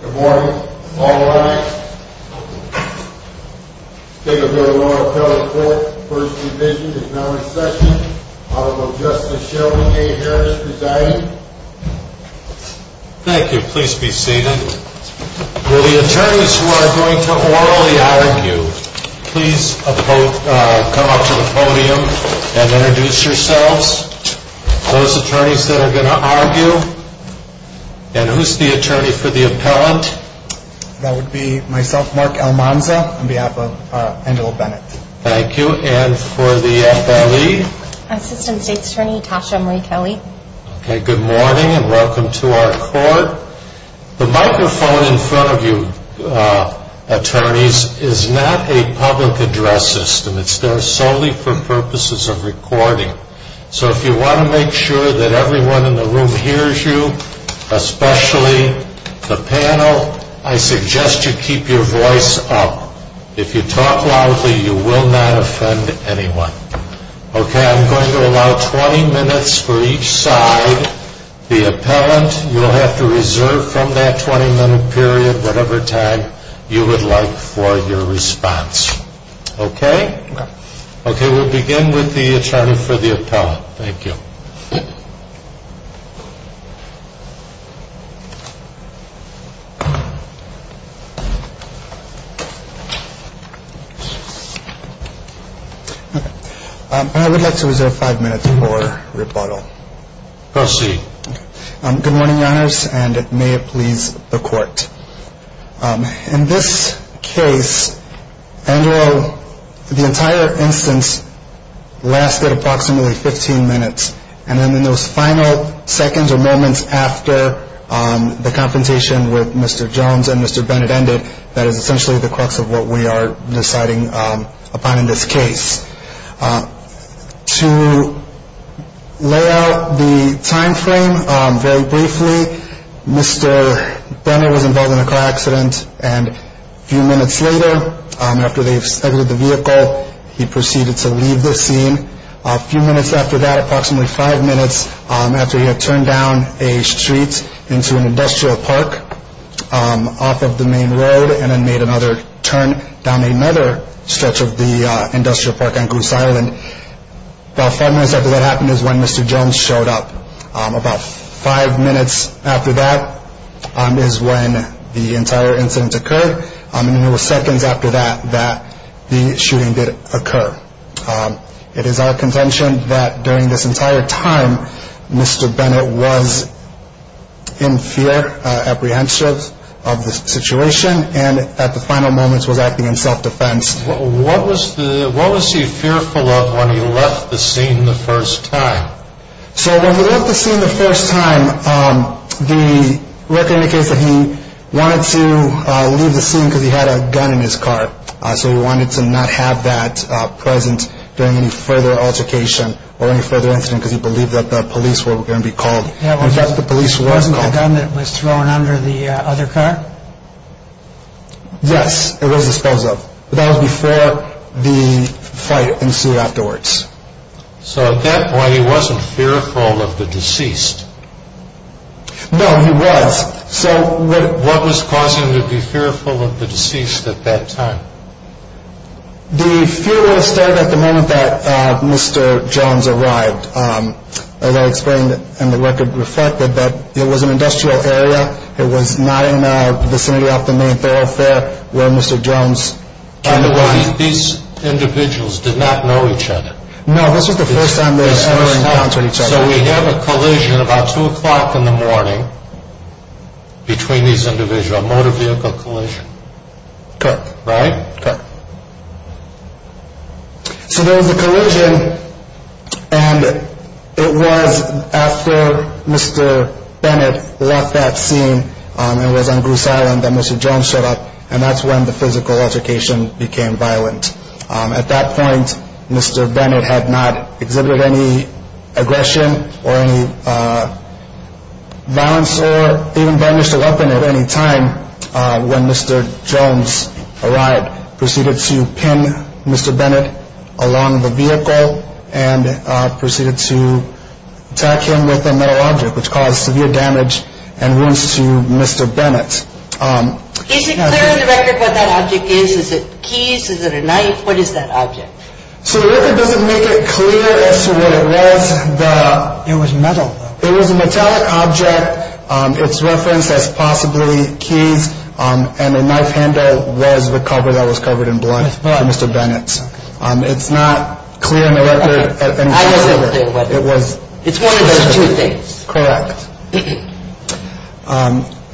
Good morning. All rise. State of the Royal Appellate Court, First Division is now in session. Honorable Justice Shelby A. Harris presiding. Thank you. Please be seated. Will the attorneys who are going to orally argue please come up to the podium and introduce yourselves. Those attorneys that are going to argue, and who's the attorney for the appellant? That would be myself, Mark Almanza, on behalf of Angela Bennett. Thank you. And for the appellee? Assistant State's Attorney, Tasha Marie Kelly. Okay, good morning and welcome to our court. The microphone in front of you, attorneys, is not a public address system. It's there solely for purposes of recording. So if you want to make sure that everyone in the room hears you, especially the panel, I suggest you keep your voice up. If you talk loudly, you will not offend anyone. Okay, I'm going to allow 20 minutes for each side. The appellant, you'll have to reserve from that 20 minute period whatever time you would like for your response. Okay, we'll begin with the attorney for the appellant. Thank you. I would like to reserve five minutes for rebuttal. Proceed. Good morning, Your Honors, and may it please the court. In this case, Andrew, the entire instance lasted approximately 15 minutes. And then in those final seconds or moments after the confrontation with Mr. Jones and Mr. Bennett ended, that is essentially the crux of what we are deciding upon in this case. To lay out the time frame very briefly, Mr. Bennett was involved in a car accident. And a few minutes later, after they exited the vehicle, he proceeded to leave the scene. A few minutes after that, approximately five minutes after he had turned down a street into an industrial park off of the main road and then made another turn down another stretch of the industrial park on Goose Island, about five minutes after that happened is when Mr. Jones showed up. About five minutes after that is when the entire incident occurred. And it was seconds after that that the shooting did occur. It is our contention that during this entire time, Mr. Bennett was in fear, apprehensive of the situation, and at the final moments was acting in self-defense. What was he fearful of when he left the scene the first time? So when he left the scene the first time, the record indicates that he wanted to leave the scene because he had a gun in his car. So he wanted to not have that present during any further altercation or any further incident because he believed that the police were going to be called. Wasn't the gun that was thrown under the other car? Yes, it was disposed of. But that was before the fight ensued afterwards. So at that point he wasn't fearful of the deceased? No, he was. What was causing him to be fearful of the deceased at that time? The fear was there at the moment that Mr. Jones arrived. As I explained, and the record reflected, that it was an industrial area. It was not in the vicinity of the main thoroughfare where Mr. Jones came to life. These individuals did not know each other? No, this was the first time they had ever encountered each other. So we have a collision about 2 o'clock in the morning between these individuals, a motor vehicle collision? Correct. Right? Correct. So there was a collision and it was after Mr. Bennett left that scene. It was on Groose Island that Mr. Jones showed up and that's when the physical altercation became violent. At that point, Mr. Bennett had not exhibited any aggression or any violence or even burnished a weapon at any time. When Mr. Jones arrived, proceeded to pin Mr. Bennett along the vehicle and proceeded to attack him with a metal object, which caused severe damage and wounds to Mr. Bennett. Is it clear in the record what that object is? Is it keys? Is it a knife? What is that object? So the record doesn't make it clear as to what it was. It was metal. It was a metallic object. It's referenced as possibly keys and a knife handle was the cover that was covered in blood by Mr. Bennett. It's not clear in the record. I just don't think it was. It's one of those two things. Correct.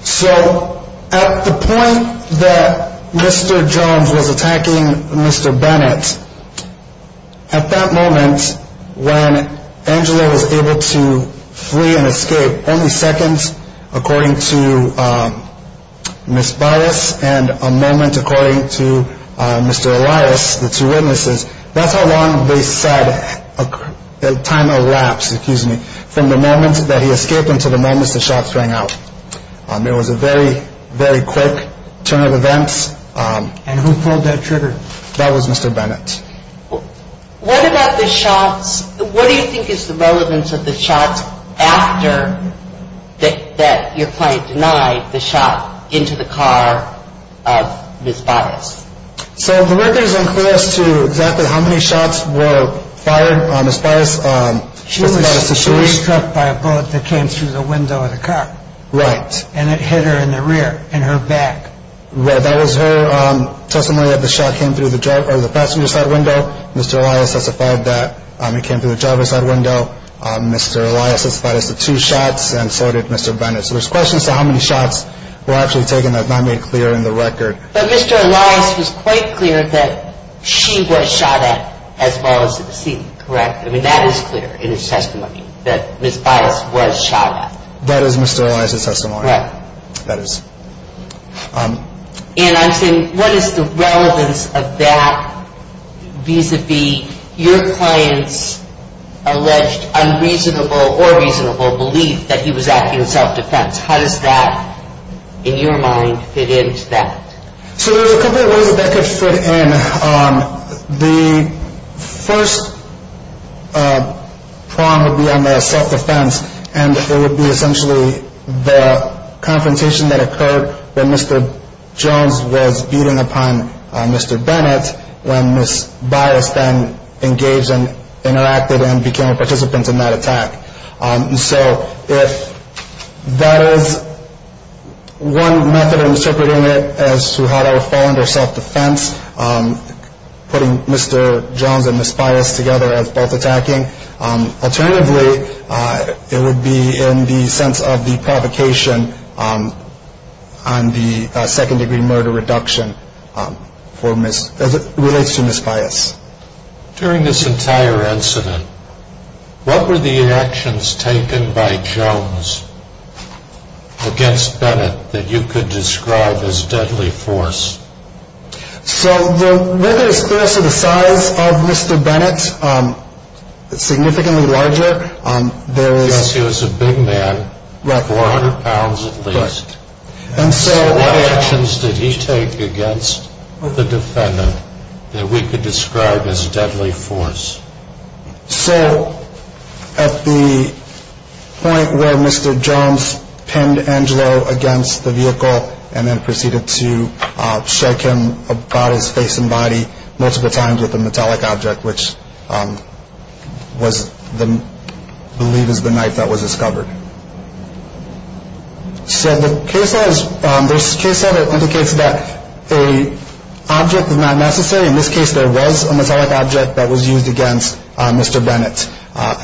So at the point that Mr. Jones was attacking Mr. Bennett, at that moment when Angela was able to flee and escape, only seconds according to Ms. Barras and a moment according to Mr. Elias, the two witnesses, that's how long they said the time elapsed from the moment that he escaped until the moment the shots rang out. It was a very, very quick turn of events. And who pulled that trigger? That was Mr. Bennett. What about the shots? What do you think is the relevance of the shots after that your client denied the shot into the car of Ms. Barras? So the record is unclear as to exactly how many shots were fired on Ms. Barras. She was shot by a bullet that came through the window of the car. Right. And it hit her in the rear, in her back. Right. That was her testimony that the shot came through the passenger side window. Mr. Elias testified that it came through the driver's side window. Mr. Elias testified as to two shots and so did Mr. Bennett. So there's questions as to how many shots were actually taken. That's not made clear in the record. But Mr. Elias was quite clear that she was shot at as well as the decedent, correct? I mean, that is clear in his testimony that Ms. Barras was shot at. That is Mr. Elias' testimony. Right. That is. And I'm saying what is the relevance of that vis-à-vis your client's alleged unreasonable or reasonable belief that he was acting in self-defense? How does that, in your mind, fit into that? So there are a couple of ways that that could fit in. The first prong would be on the self-defense. And it would be essentially the confrontation that occurred when Mr. Jones was beating upon Mr. Bennett, when Ms. Barras then engaged and interacted and became a participant in that attack. And so if that is one method of interpreting it as to how to fall under self-defense, putting Mr. Jones and Ms. Barras together as both attacking, alternatively it would be in the sense of the provocation on the second-degree murder reduction as it relates to Ms. Barras. During this entire incident, what were the actions taken by Jones against Bennett that you could describe as deadly force? So there is threats of the size of Mr. Bennett, significantly larger. Yes, he was a big man, 400 pounds at least. And so what actions did he take against the defendant that we could describe as deadly force? So at the point where Mr. Jones pinned Angelo against the vehicle and then proceeded to shake him about his face and body multiple times with a metallic object, which was believed to be the knife that was discovered. So the case says, this case says that an object is not necessary. In this case there was a metallic object that was used against Mr. Bennett.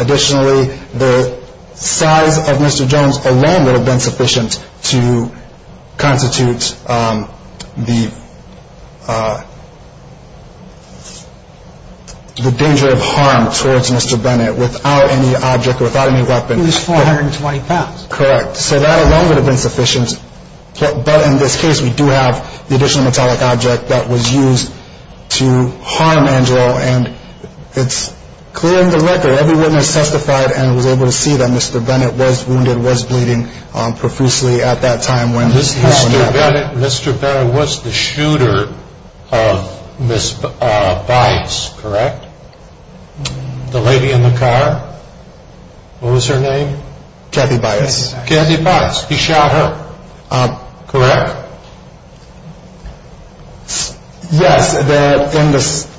Additionally, the size of Mr. Jones alone would have been sufficient to constitute the danger of harm towards Mr. Bennett without any object or without any weapon. It was 420 pounds. Correct. So that alone would have been sufficient. But in this case we do have the additional metallic object that was used to harm Angelo. And it's clear in the record, every witness testified and was able to see that Mr. Bennett was wounded, was bleeding profusely at that time when this happened. Mr. Bennett, Mr. Barras was the shooter of Ms. Bites, correct? The lady in the car. What was her name? Kathy Bites. Kathy Bites. He shot her. Correct? Yes.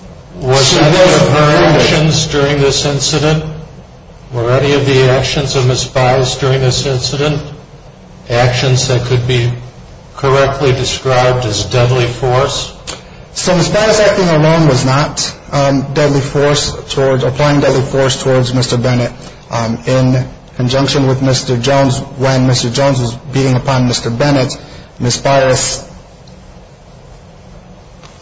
Was any of her actions during this incident, were any of the actions of Ms. Bites during this incident actions that could be correctly described as deadly force? So Ms. Bites acting alone was not deadly force, applying deadly force towards Mr. Bennett. In conjunction with Mr. Jones, when Mr. Jones was beating upon Mr. Bennett, Ms. Bites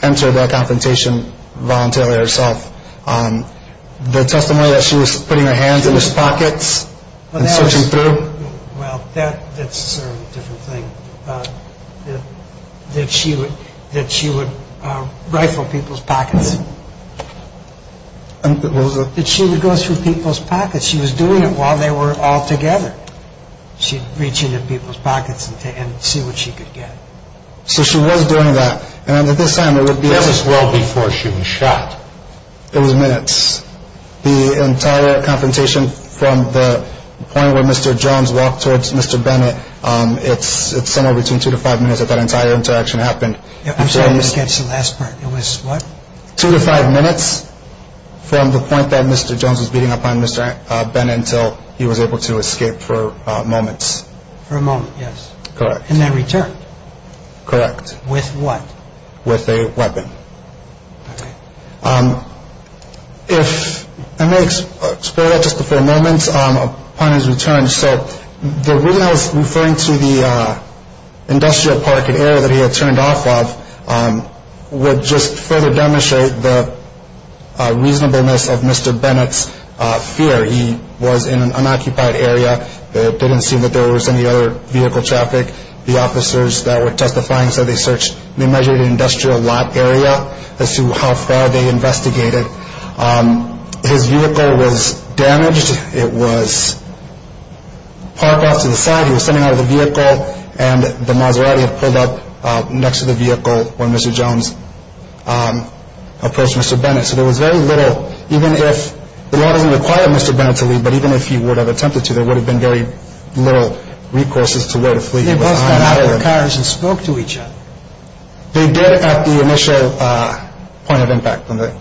entered that confrontation voluntarily herself. The testimony that she was putting her hands in his pockets and searching through. Well, that's sort of a different thing. That she would rifle people's pockets. That she would go through people's pockets. She was doing it while they were all together. She'd reach into people's pockets and see what she could get. So she was doing that. And at this time it would be minutes. That was well before she was shot. It was minutes. The entire confrontation from the point where Mr. Jones walked towards Mr. Bennett, it's somewhere between two to five minutes that that entire interaction happened. I'm sorry, I missed the last part. It was what? Two to five minutes from the point that Mr. Jones was beating upon Mr. Bennett until he was able to escape for moments. For a moment, yes. Correct. And then returned. Correct. With what? With a weapon. Okay. If I may explore that just for a moment upon his return. So the reason I was referring to the industrial park and area that he had turned off of would just further demonstrate the reasonableness of Mr. Bennett's fear. He was in an unoccupied area. It didn't seem that there was any other vehicle traffic. The officers that were testifying said they measured an industrial lot area as to how far they investigated. His vehicle was damaged. It was parked off to the side. He was sitting out of the vehicle, and the Maserati had pulled up next to the vehicle when Mr. Jones approached Mr. Bennett. So there was very little, even if the law doesn't require Mr. Bennett to leave, but even if he would have attempted to, there would have been very little recourses to where to flee. So they both got out of the cars and spoke to each other. They did at the initial point of impact, the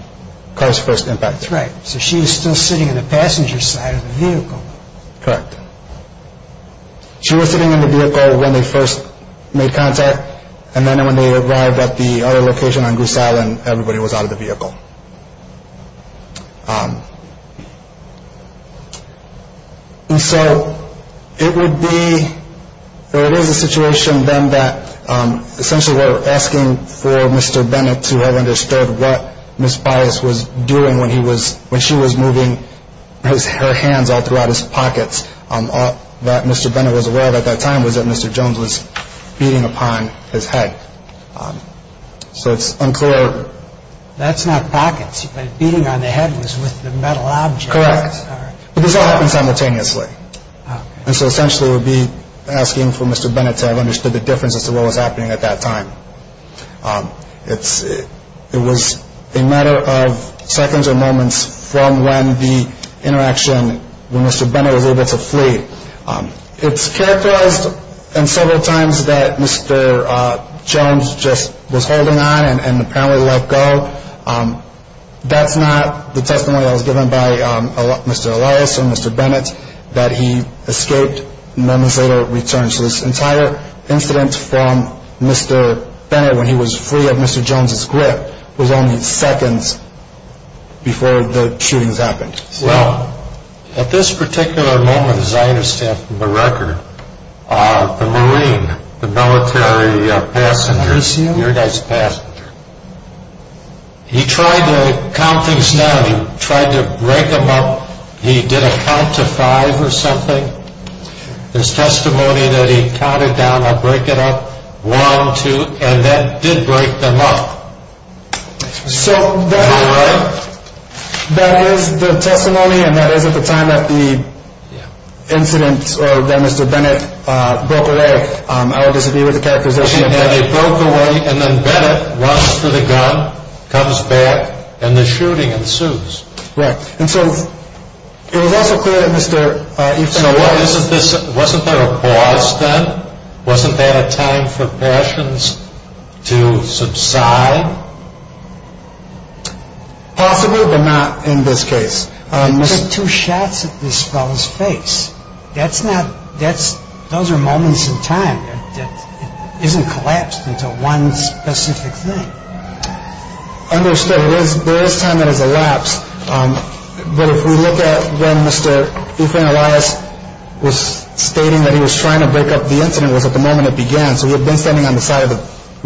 car's first impact. That's right. So she was still sitting in the passenger side of the vehicle. Correct. She was sitting in the vehicle when they first made contact, and then when they arrived at the other location on Goose Island, everybody was out of the vehicle. And so it would be, or it is a situation then that essentially we're asking for Mr. Bennett to have understood what Ms. Bias was doing when she was moving her hands all throughout his pockets. All that Mr. Bennett was aware of at that time was that Mr. Jones was beating upon his head. So it's unclear. That's not pockets. Beating on the head was with the metal object. Correct. But this all happened simultaneously. And so essentially it would be asking for Mr. Bennett to have understood the differences to what was happening at that time. It was a matter of seconds or moments from when the interaction, when Mr. Bennett was able to flee. It's characterized in several times that Mr. Jones just was holding on and apparently let go. That's not the testimony that was given by Mr. Elias or Mr. Bennett, that he escaped and then was able to return. So this entire incident from Mr. Bennett when he was free of Mr. Jones's grip was only seconds before the shootings happened. Well, at this particular moment, as I understand from the record, the Marine, the military passenger, he tried to count things down. He tried to break them up. He did a count to five or something. His testimony that he counted down, I'll break it up, one, two, and that did break them up. So that is the testimony and that is at the time that the incident or that Mr. Bennett broke away. I would disagree with the characterization of that. He broke away and then Bennett runs for the gun, comes back, and the shooting ensues. Right. And so it was also clear that Mr. Everson... So wasn't there a pause then? Wasn't there a time for passions to subside? Possibly, but not in this case. He took two shots at this fellow's face. That's not – those are moments in time. It isn't collapsed into one specific thing. Understood. There is time that has elapsed. But if we look at when Mr. Efrain Elias was stating that he was trying to break up the incident, it was at the moment it began. So he had been standing on the side of the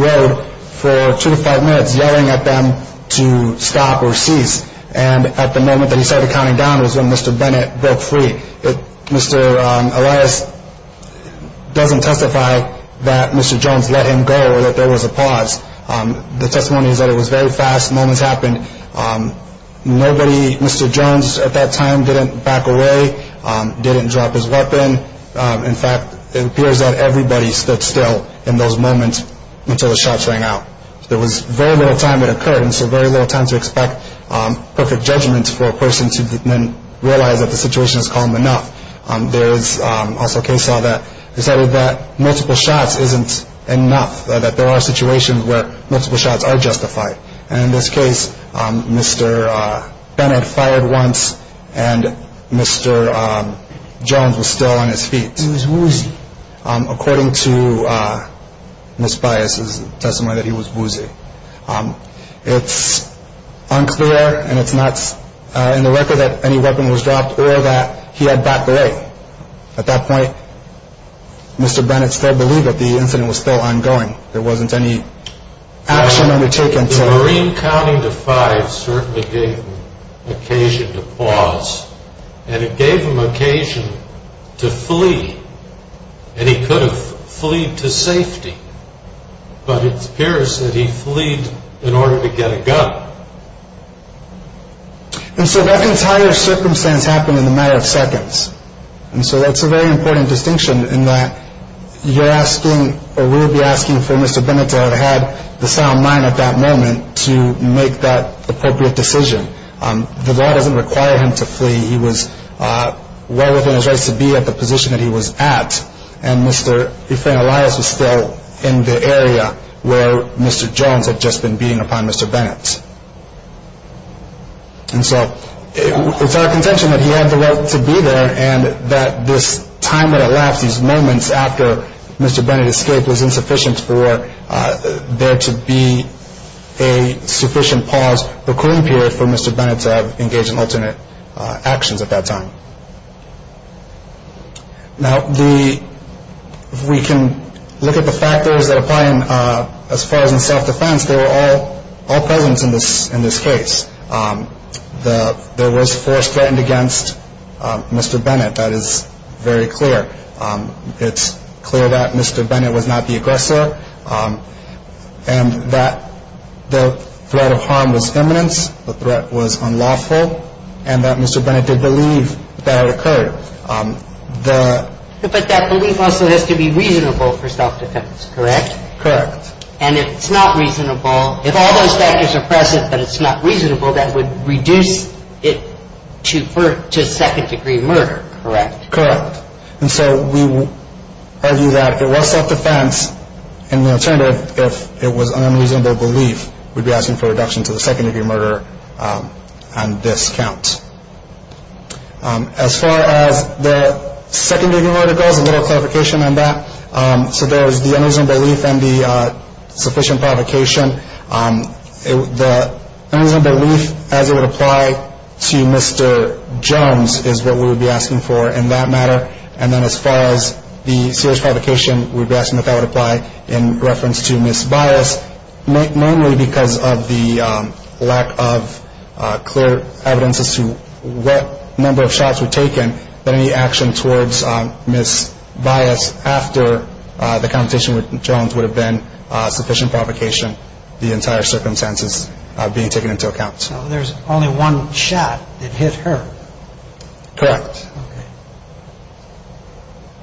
road for two to five minutes yelling at them to stop or cease. And at the moment that he started counting down was when Mr. Bennett broke free. Mr. Elias doesn't testify that Mr. Jones let him go or that there was a pause. The testimony is that it was very fast. Moments happened. Nobody, Mr. Jones at that time, didn't back away, didn't drop his weapon. In fact, it appears that everybody stood still in those moments until the shots rang out. There was very little time it occurred, and so very little time to expect perfect judgment for a person to then realize that the situation is calm enough. There is also a case law that decided that multiple shots isn't enough, that there are situations where multiple shots are justified. And in this case, Mr. Bennett fired once and Mr. Jones was still on his feet. He was woozy. According to Ms. Bias' testimony that he was woozy. It's unclear and it's not in the record that any weapon was dropped or that he had backed away. At that point, Mr. Bennett still believed that the incident was still ongoing. There wasn't any action undertaken. The Marine counting to five certainly gave him occasion to pause, and it gave him occasion to flee. And he could have fleed to safety, but it appears that he fleed in order to get a gun. And so that entire circumstance happened in a matter of seconds. And so that's a very important distinction in that you're asking or will be asking for Mr. Bennett to have had the sound mind at that moment to make that appropriate decision. The law doesn't require him to flee. He was well within his rights to be at the position that he was at, and Mr. Efrain Elias was still in the area where Mr. Jones had just been beating upon Mr. Bennett. And so it's our contention that he had the right to be there and that this time that elapsed, these moments after Mr. Bennett escaped, was insufficient for there to be a sufficient pause, a cooling period for Mr. Bennett to have engaged in alternate actions at that time. Now, if we can look at the factors that apply as far as in self-defense, they were all present in this case. There was force threatened against Mr. Bennett. That is very clear. It's clear that Mr. Bennett was not the aggressor and that the threat of harm was imminent. The threat was unlawful and that Mr. Bennett did believe that it occurred. But that belief also has to be reasonable for self-defense, correct? Correct. And if it's not reasonable, if all those factors are present that it's not reasonable, that would reduce it to second-degree murder, correct? Correct. And so we argue that if it was self-defense, and in return if it was an unreasonable belief, we'd be asking for a reduction to the second-degree murder on this count. As far as the second-degree murder goes, a little clarification on that. So there is the unreasonable belief and the sufficient provocation. The unreasonable belief as it would apply to Mr. Jones is what we would be asking for in that matter. And then as far as the serious provocation, we'd be asking if that would apply in reference to Ms. Bias. Normally because of the lack of clear evidence as to what number of shots were taken, that any action towards Ms. Bias after the conversation with Jones would have been sufficient provocation, the entire circumstances being taken into account. So there's only one shot that hit her. Correct. Okay.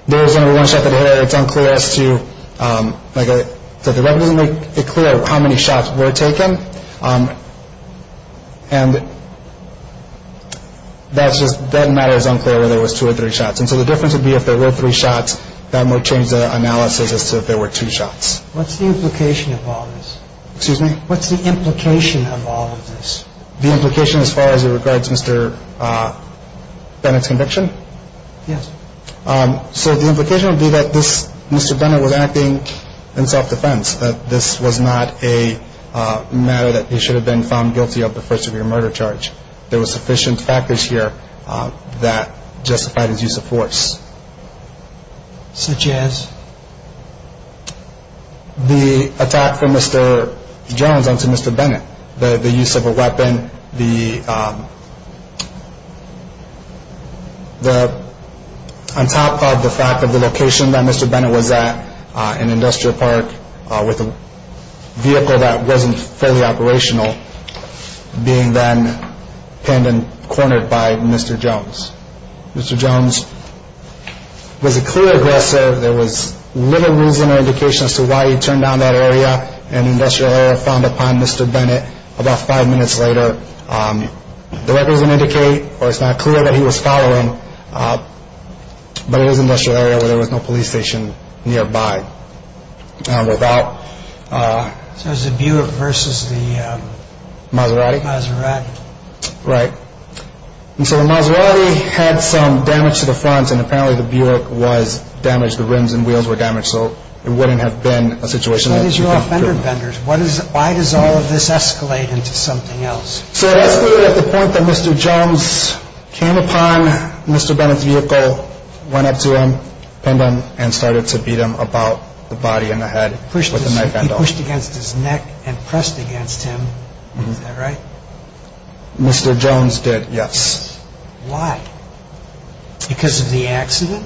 There's only one shot that hit her. It's unclear as to, like I said, the record doesn't make it clear how many shots were taken. And that's just, that matter is unclear whether it was two or three shots. And so the difference would be if there were three shots, that might change the analysis as to if there were two shots. What's the implication of all this? Excuse me? What's the implication of all of this? The implication as far as it regards Mr. Bennett's conviction? Yes. So the implication would be that Mr. Bennett was acting in self-defense, that this was not a matter that he should have been found guilty of the first-degree murder charge. There were sufficient factors here that justified his use of force. Such as? The attack from Mr. Jones onto Mr. Bennett. The use of a weapon, the, on top of the fact of the location that Mr. Bennett was at, an industrial park with a vehicle that wasn't fully operational, being then pinned and cornered by Mr. Jones. Mr. Jones was a clear aggressor. There was little reason or indication as to why he turned down that area, an industrial area found upon Mr. Bennett about five minutes later. The records don't indicate or it's not clear that he was following, but it was an industrial area where there was no police station nearby. And without. So it was the Buick versus the? Maserati. Maserati. Right. And so the Maserati had some damage to the front. And apparently the Buick was damaged. The rims and wheels were damaged. So it wouldn't have been a situation. Why does all of this escalate into something else? So it escalated at the point that Mr. Jones came upon Mr. Bennett's vehicle, went up to him, pinned him, and started to beat him about the body and the head. He pushed against his neck and pressed against him. Is that right? Mr. Jones did, yes. Why? Because of the accident?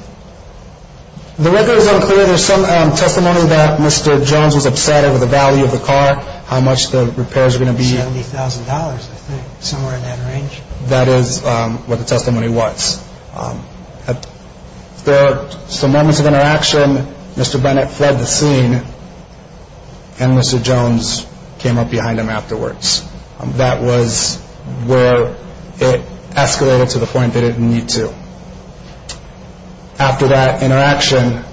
The record is unclear. There's some testimony that Mr. Jones was upset over the value of the car, how much the repairs were going to be. $70,000, I think, somewhere in that range. That is what the testimony was. There are some moments of interaction. Mr. Bennett fled the scene. And Mr. Jones came up behind him afterwards. That was where it escalated to the point that it didn't need to. After that interaction,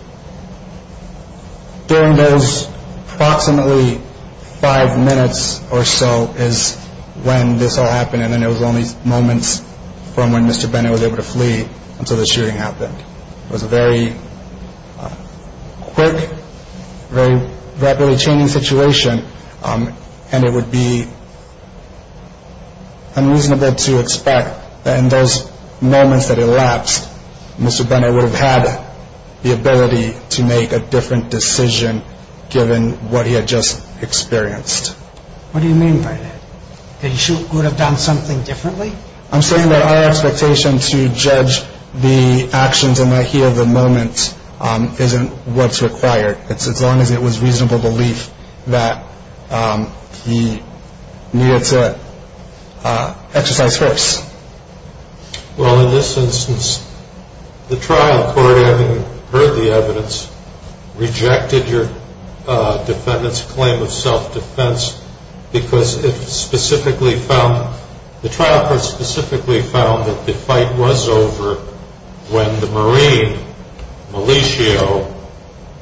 during those approximately five minutes or so is when this all happened. And then it was only moments from when Mr. Bennett was able to flee until the shooting happened. It was a very quick, very rapidly changing situation. And it would be unreasonable to expect that in those moments that elapsed, Mr. Bennett would have had the ability to make a different decision given what he had just experienced. What do you mean by that? That he would have done something differently? I'm saying that our expectation to judge the actions and the idea of the moment isn't what's required. It's as long as it was reasonable belief that he needed to exercise first. Well, in this instance, the trial court, having heard the evidence, rejected your defendant's claim of self-defense because it specifically found, the trial court specifically found that the fight was over when the Marine, Militio,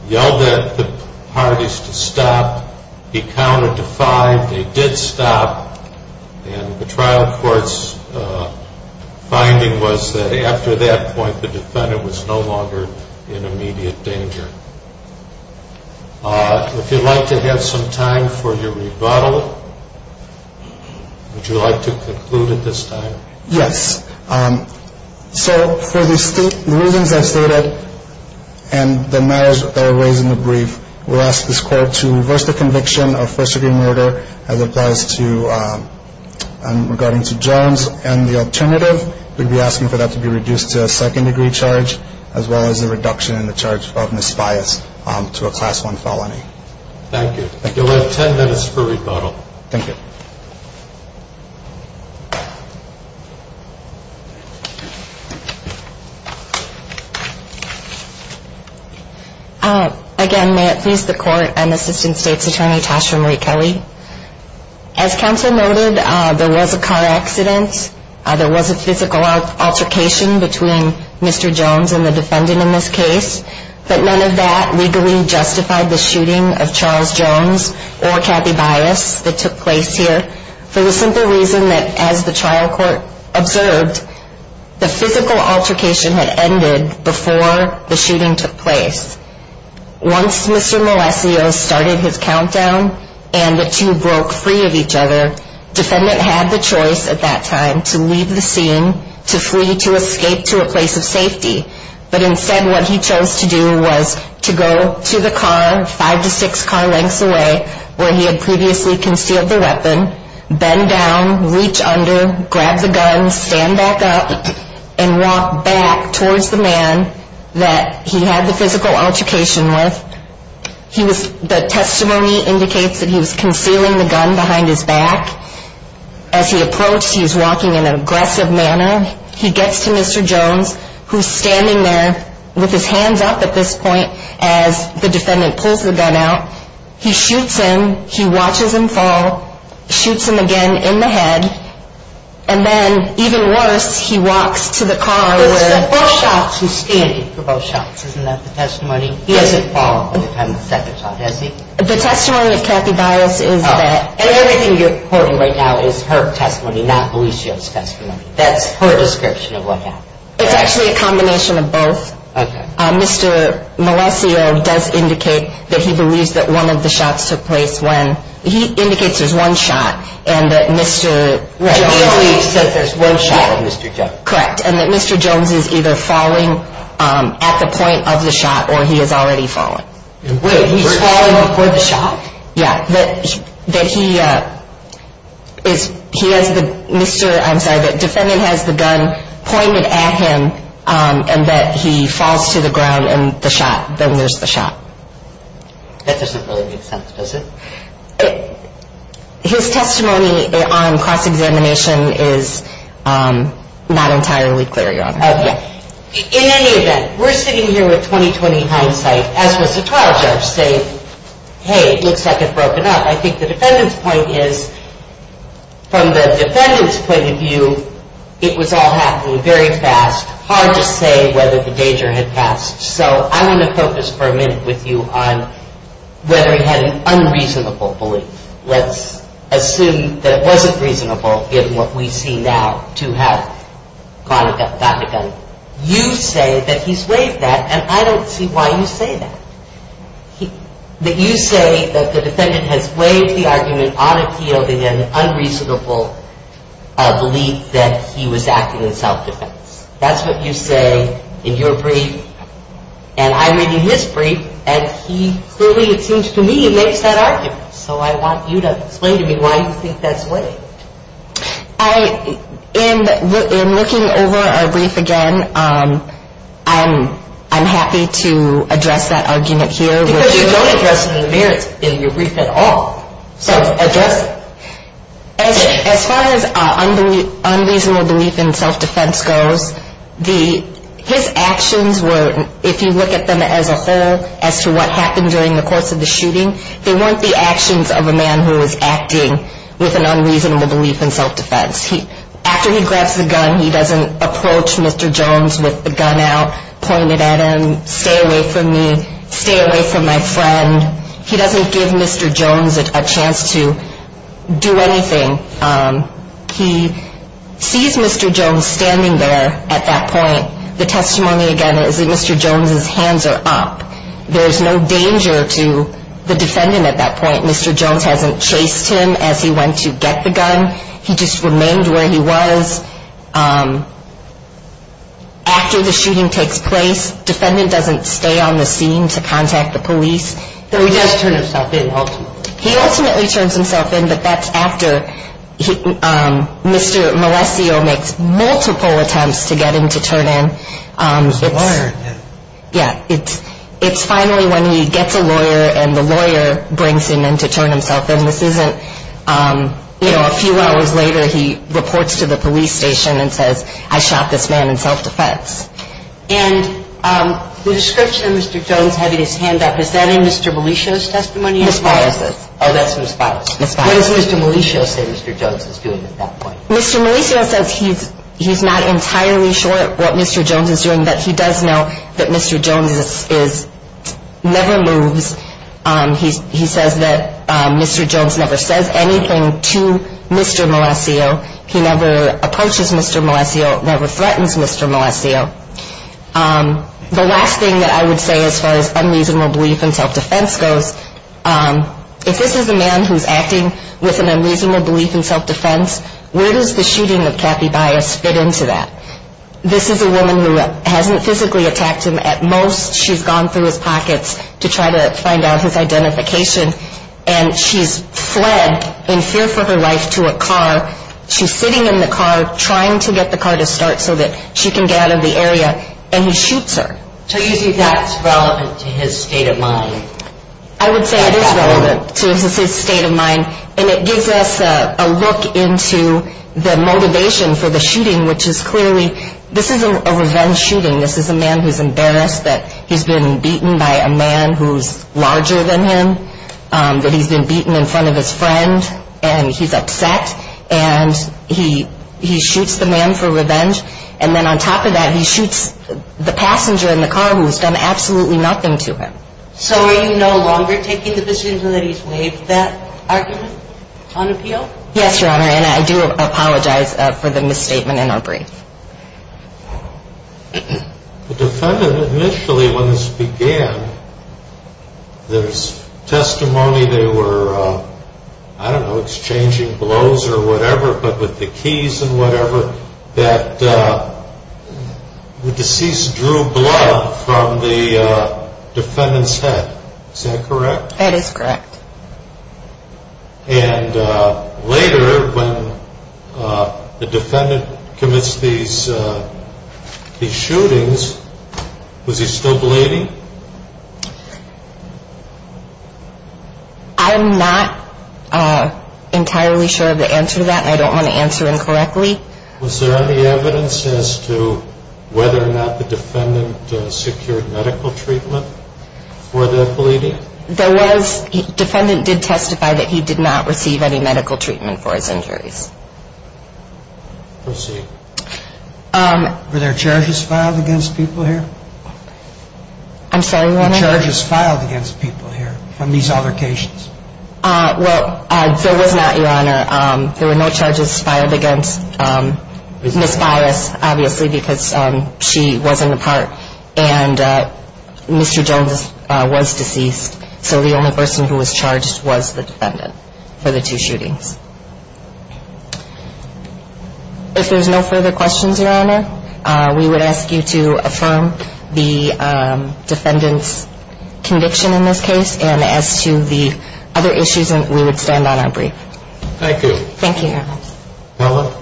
yelled at the parties to stop. He counted to five. They did stop. And the trial court's finding was that after that point, the defendant was no longer in immediate danger. If you'd like to have some time for your rebuttal, would you like to conclude at this time? Yes. So for the reasons I stated and the matters that are raised in the brief, we'll ask this court to reverse the conviction of first-degree murder as it applies to regarding to Jones. And the alternative, we'd be asking for that to be reduced to a second-degree charge, as well as a reduction in the charge of misbias to a Class I felony. Thank you. You'll have ten minutes for rebuttal. Thank you. Again, may it please the Court, I'm Assistant State's Attorney Tasha Marie Kelly. As counsel noted, there was a car accident. There was a physical altercation between Mr. Jones and the defendant in this case. But none of that legally justified the shooting of Charles Jones or Kathy Bias that took place here for the simple reason that, as the trial court observed, the physical altercation had ended before the shooting took place. Once Mr. Malesios started his countdown and the two broke free of each other, defendant had the choice at that time to leave the scene, to flee, to escape to a place of safety. But instead, what he chose to do was to go to the car, five to six car lengths away, where he had previously concealed the weapon, bend down, reach under, grab the gun, stand back up, and walk back towards the man that he had the physical altercation with. The testimony indicates that he was concealing the gun behind his back. As he approached, he was walking in an aggressive manner. He gets to Mr. Jones, who's standing there with his hands up at this point as the defendant pulls the gun out. He shoots him. He watches him fall, shoots him again in the head. And then, even worse, he walks to the car where... It was for both shots. He's standing for both shots. Isn't that the testimony? He doesn't fall at the time of the second shot, does he? The testimony of Kathy Bias is that... Oh, and everything you're quoting right now is her testimony, not Malesios' testimony. That's her description of what happened. It's actually a combination of both. Okay. Mr. Malesios does indicate that he believes that one of the shots took place when... He indicates there's one shot and that Mr. Jones... He believes that there's one shot of Mr. Jones. Correct, and that Mr. Jones is either falling at the point of the shot or he has already fallen. Wait, he's falling before the shot? Yeah, that he is... He has the... I'm sorry, the defendant has the gun pointed at him and that he falls to the ground and the shot. Then there's the shot. That doesn't really make sense, does it? His testimony on cross-examination is not entirely clear, Your Honor. Okay. In any event, we're sitting here with 20-20 hindsight, as was the trial judge saying, hey, it looks like it's broken up. I think the defendant's point is, from the defendant's point of view, it was all happening very fast. Hard to say whether the danger had passed. So I want to focus for a minute with you on whether he had an unreasonable belief. Let's assume that it wasn't reasonable, given what we see now, to have gotten a gun. You say that he's waived that, and I don't see why you say that. You say that the defendant has waived the argument on appeal in an unreasonable belief that he was acting in self-defense. That's what you say in your brief, and I read in his brief, and he clearly, it seems to me, makes that argument. So I want you to explain to me why you think that's waived. In looking over our brief again, I'm happy to address that argument here. Because you don't address it in the merits in your brief at all. So address it. As far as unreasonable belief in self-defense goes, his actions were, if you look at them as a whole, as to what happened during the course of the shooting, they weren't the actions of a man who was acting with an unreasonable belief in self-defense. After he grabs the gun, he doesn't approach Mr. Jones with the gun out, point it at him, stay away from me, stay away from my friend. He doesn't give Mr. Jones a chance to do anything. He sees Mr. Jones standing there at that point. The testimony, again, is that Mr. Jones's hands are up. There's no danger to the defendant at that point. Mr. Jones hasn't chased him as he went to get the gun. He just remained where he was. After the shooting takes place, defendant doesn't stay on the scene to contact the police. So he does turn himself in, ultimately. He ultimately turns himself in, but that's after Mr. Malescio makes multiple attempts to get him to turn in. He's wired, yeah. It's finally when he gets a lawyer and the lawyer brings him in to turn himself in. This isn't, you know, a few hours later he reports to the police station and says, I shot this man in self-defense. And the description of Mr. Jones having his hand up, is that in Mr. Malescio's testimony? Ms. Files. Oh, that's Ms. Files. What does Mr. Malescio say Mr. Jones is doing at that point? Mr. Malescio says he's not entirely sure what Mr. Jones is doing, but he does know that Mr. Jones never moves. He says that Mr. Jones never says anything to Mr. Malescio. He never approaches Mr. Malescio, never threatens Mr. Malescio. The last thing that I would say as far as unreasonable belief in self-defense goes, if this is a man who's acting with an unreasonable belief in self-defense, where does the shooting of Kathy Bias fit into that? This is a woman who hasn't physically attacked him at most. She's gone through his pockets to try to find out his identification, and she's fled in fear for her life to a car. She's sitting in the car trying to get the car to start so that she can get out of the area, and he shoots her. So you think that's relevant to his state of mind? I would say it is relevant to his state of mind, and it gives us a look into the motivation for the shooting, which is clearly, this is a revenge shooting. This is a man who's embarrassed that he's been beaten by a man who's larger than him, that he's been beaten in front of his friend, and he's upset, and he shoots the man for revenge, and then on top of that, he shoots the passenger in the car who's done absolutely nothing to him. So are you no longer taking the position that he's waived that argument on appeal? Yes, Your Honor, and I do apologize for the misstatement in our brief. The defendant initially, when this began, there's testimony they were, I don't know, exchanging blows or whatever, but with the keys and whatever, that the deceased drew blood from the defendant's head. Is that correct? That is correct. And later, when the defendant commits these shootings, was he still bleeding? I'm not entirely sure of the answer to that, and I don't want to answer incorrectly. Was there any evidence as to whether or not the defendant secured medical treatment for the bleeding? There was. The defendant did testify that he did not receive any medical treatment for his injuries. Proceed. Were there charges filed against people here? I'm sorry, Your Honor? Were there charges filed against people here from these altercations? Well, there was not, Your Honor. There were no charges filed against Ms. Byrus, obviously, because she wasn't a part, and Mr. Jones was deceased, so the only person who was charged was the defendant for the two shootings. If there's no further questions, Your Honor, we would ask you to affirm the defendant's conviction in this case, and as to the other issues, we would stand on our brief. Thank you. Thank you, Your Honor. Marla.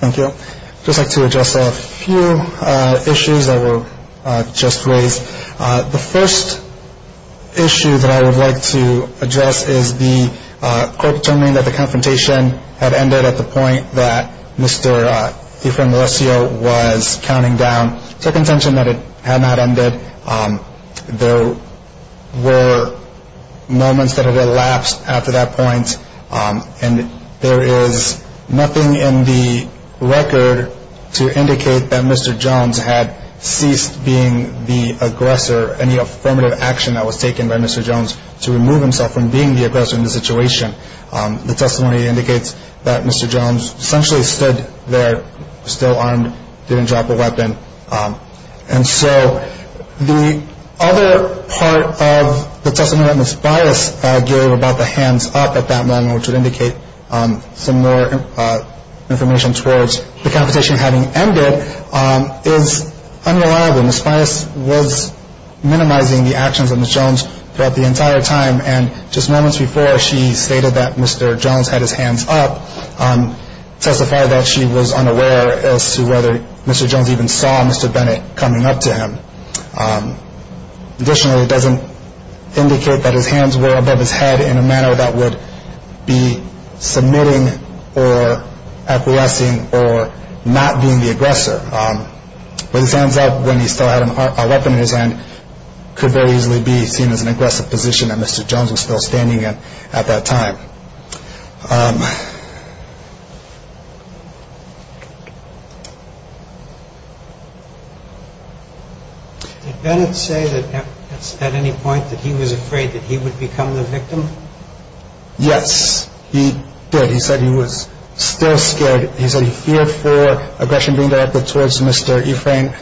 Thank you. I would just like to address a few issues that were just raised. The first issue that I would like to address is the court determining that the confrontation had ended at the point that Mr. DeFranco was counting down. It's our contention that it had not ended. There were moments that have elapsed after that point, and there is nothing in the record to indicate that Mr. Jones had ceased being the aggressor, any affirmative action that was taken by Mr. Jones to remove himself from being the aggressor in the situation. The testimony indicates that Mr. Jones essentially stood there, still armed, didn't drop a weapon. And so the other part of the testimony that Ms. Bias gave about the hands up at that moment, which would indicate some more information towards the confrontation having ended, is unreliable. Ms. Bias was minimizing the actions of Mr. Jones throughout the entire time, and just moments before she stated that Mr. Jones had his hands up, testified that she was unaware as to whether Mr. Jones even saw Mr. Bennett coming up to him. Additionally, it doesn't indicate that his hands were above his head in a manner that would be submitting or acquiescing or not being the aggressor. But his hands up, when he still had a weapon in his hand, could very easily be seen as an aggressive position that Mr. Jones was still standing in at that time. Did Bennett say at any point that he was afraid that he would become the victim? Yes, he did. He said he was still scared. He said he feared for aggression being directed towards Mr. Efrain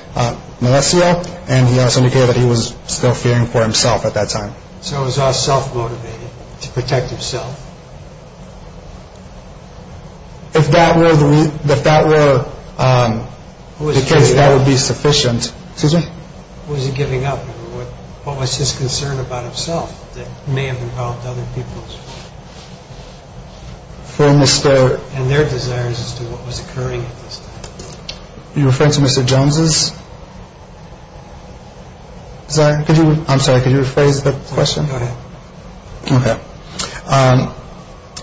Melecio, and he also indicated that he was still fearing for himself at that time. So it was all self-motivated to protect himself? If that were the case, that would be sufficient. Who was he giving up? What was his concern about himself that may have involved other people and their desires as to what was occurring at this time? Are you referring to Mr. Jones? I'm sorry, could you rephrase the question? Go ahead. Okay.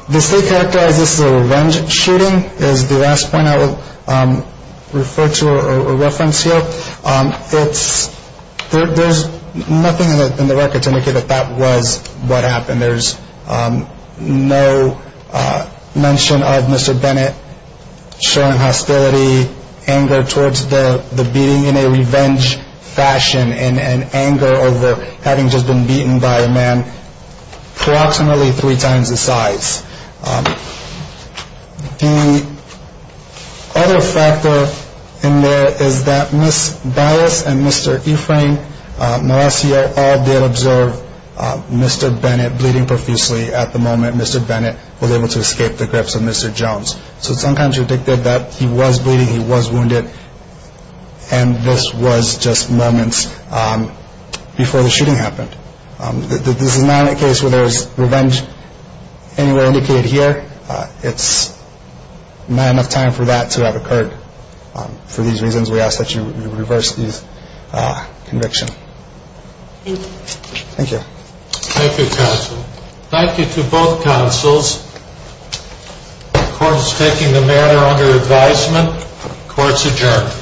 The state characterized this as a revenge shooting is the last point I will refer to or reference here. There's nothing in the record to indicate that that was what happened. There's no mention of Mr. Bennett showing hostility, anger towards the beating in a revenge fashion, and anger over having just been beaten by a man approximately three times his size. The other factor in there is that Ms. Ballas and Mr. Efrain Melecio all did observe Mr. Bennett bleeding profusely at the moment. Mr. Bennett was able to escape the grips of Mr. Jones. So it's uncontradicted that he was bleeding, he was wounded, and this was just moments before the shooting happened. This is not a case where there's revenge anywhere indicated here. It's not enough time for that to have occurred. For these reasons, we ask that you reverse this conviction. Thank you. Thank you. Thank you, counsel. Thank you to both counsels. Court is taking the matter under advisement. Court is adjourned.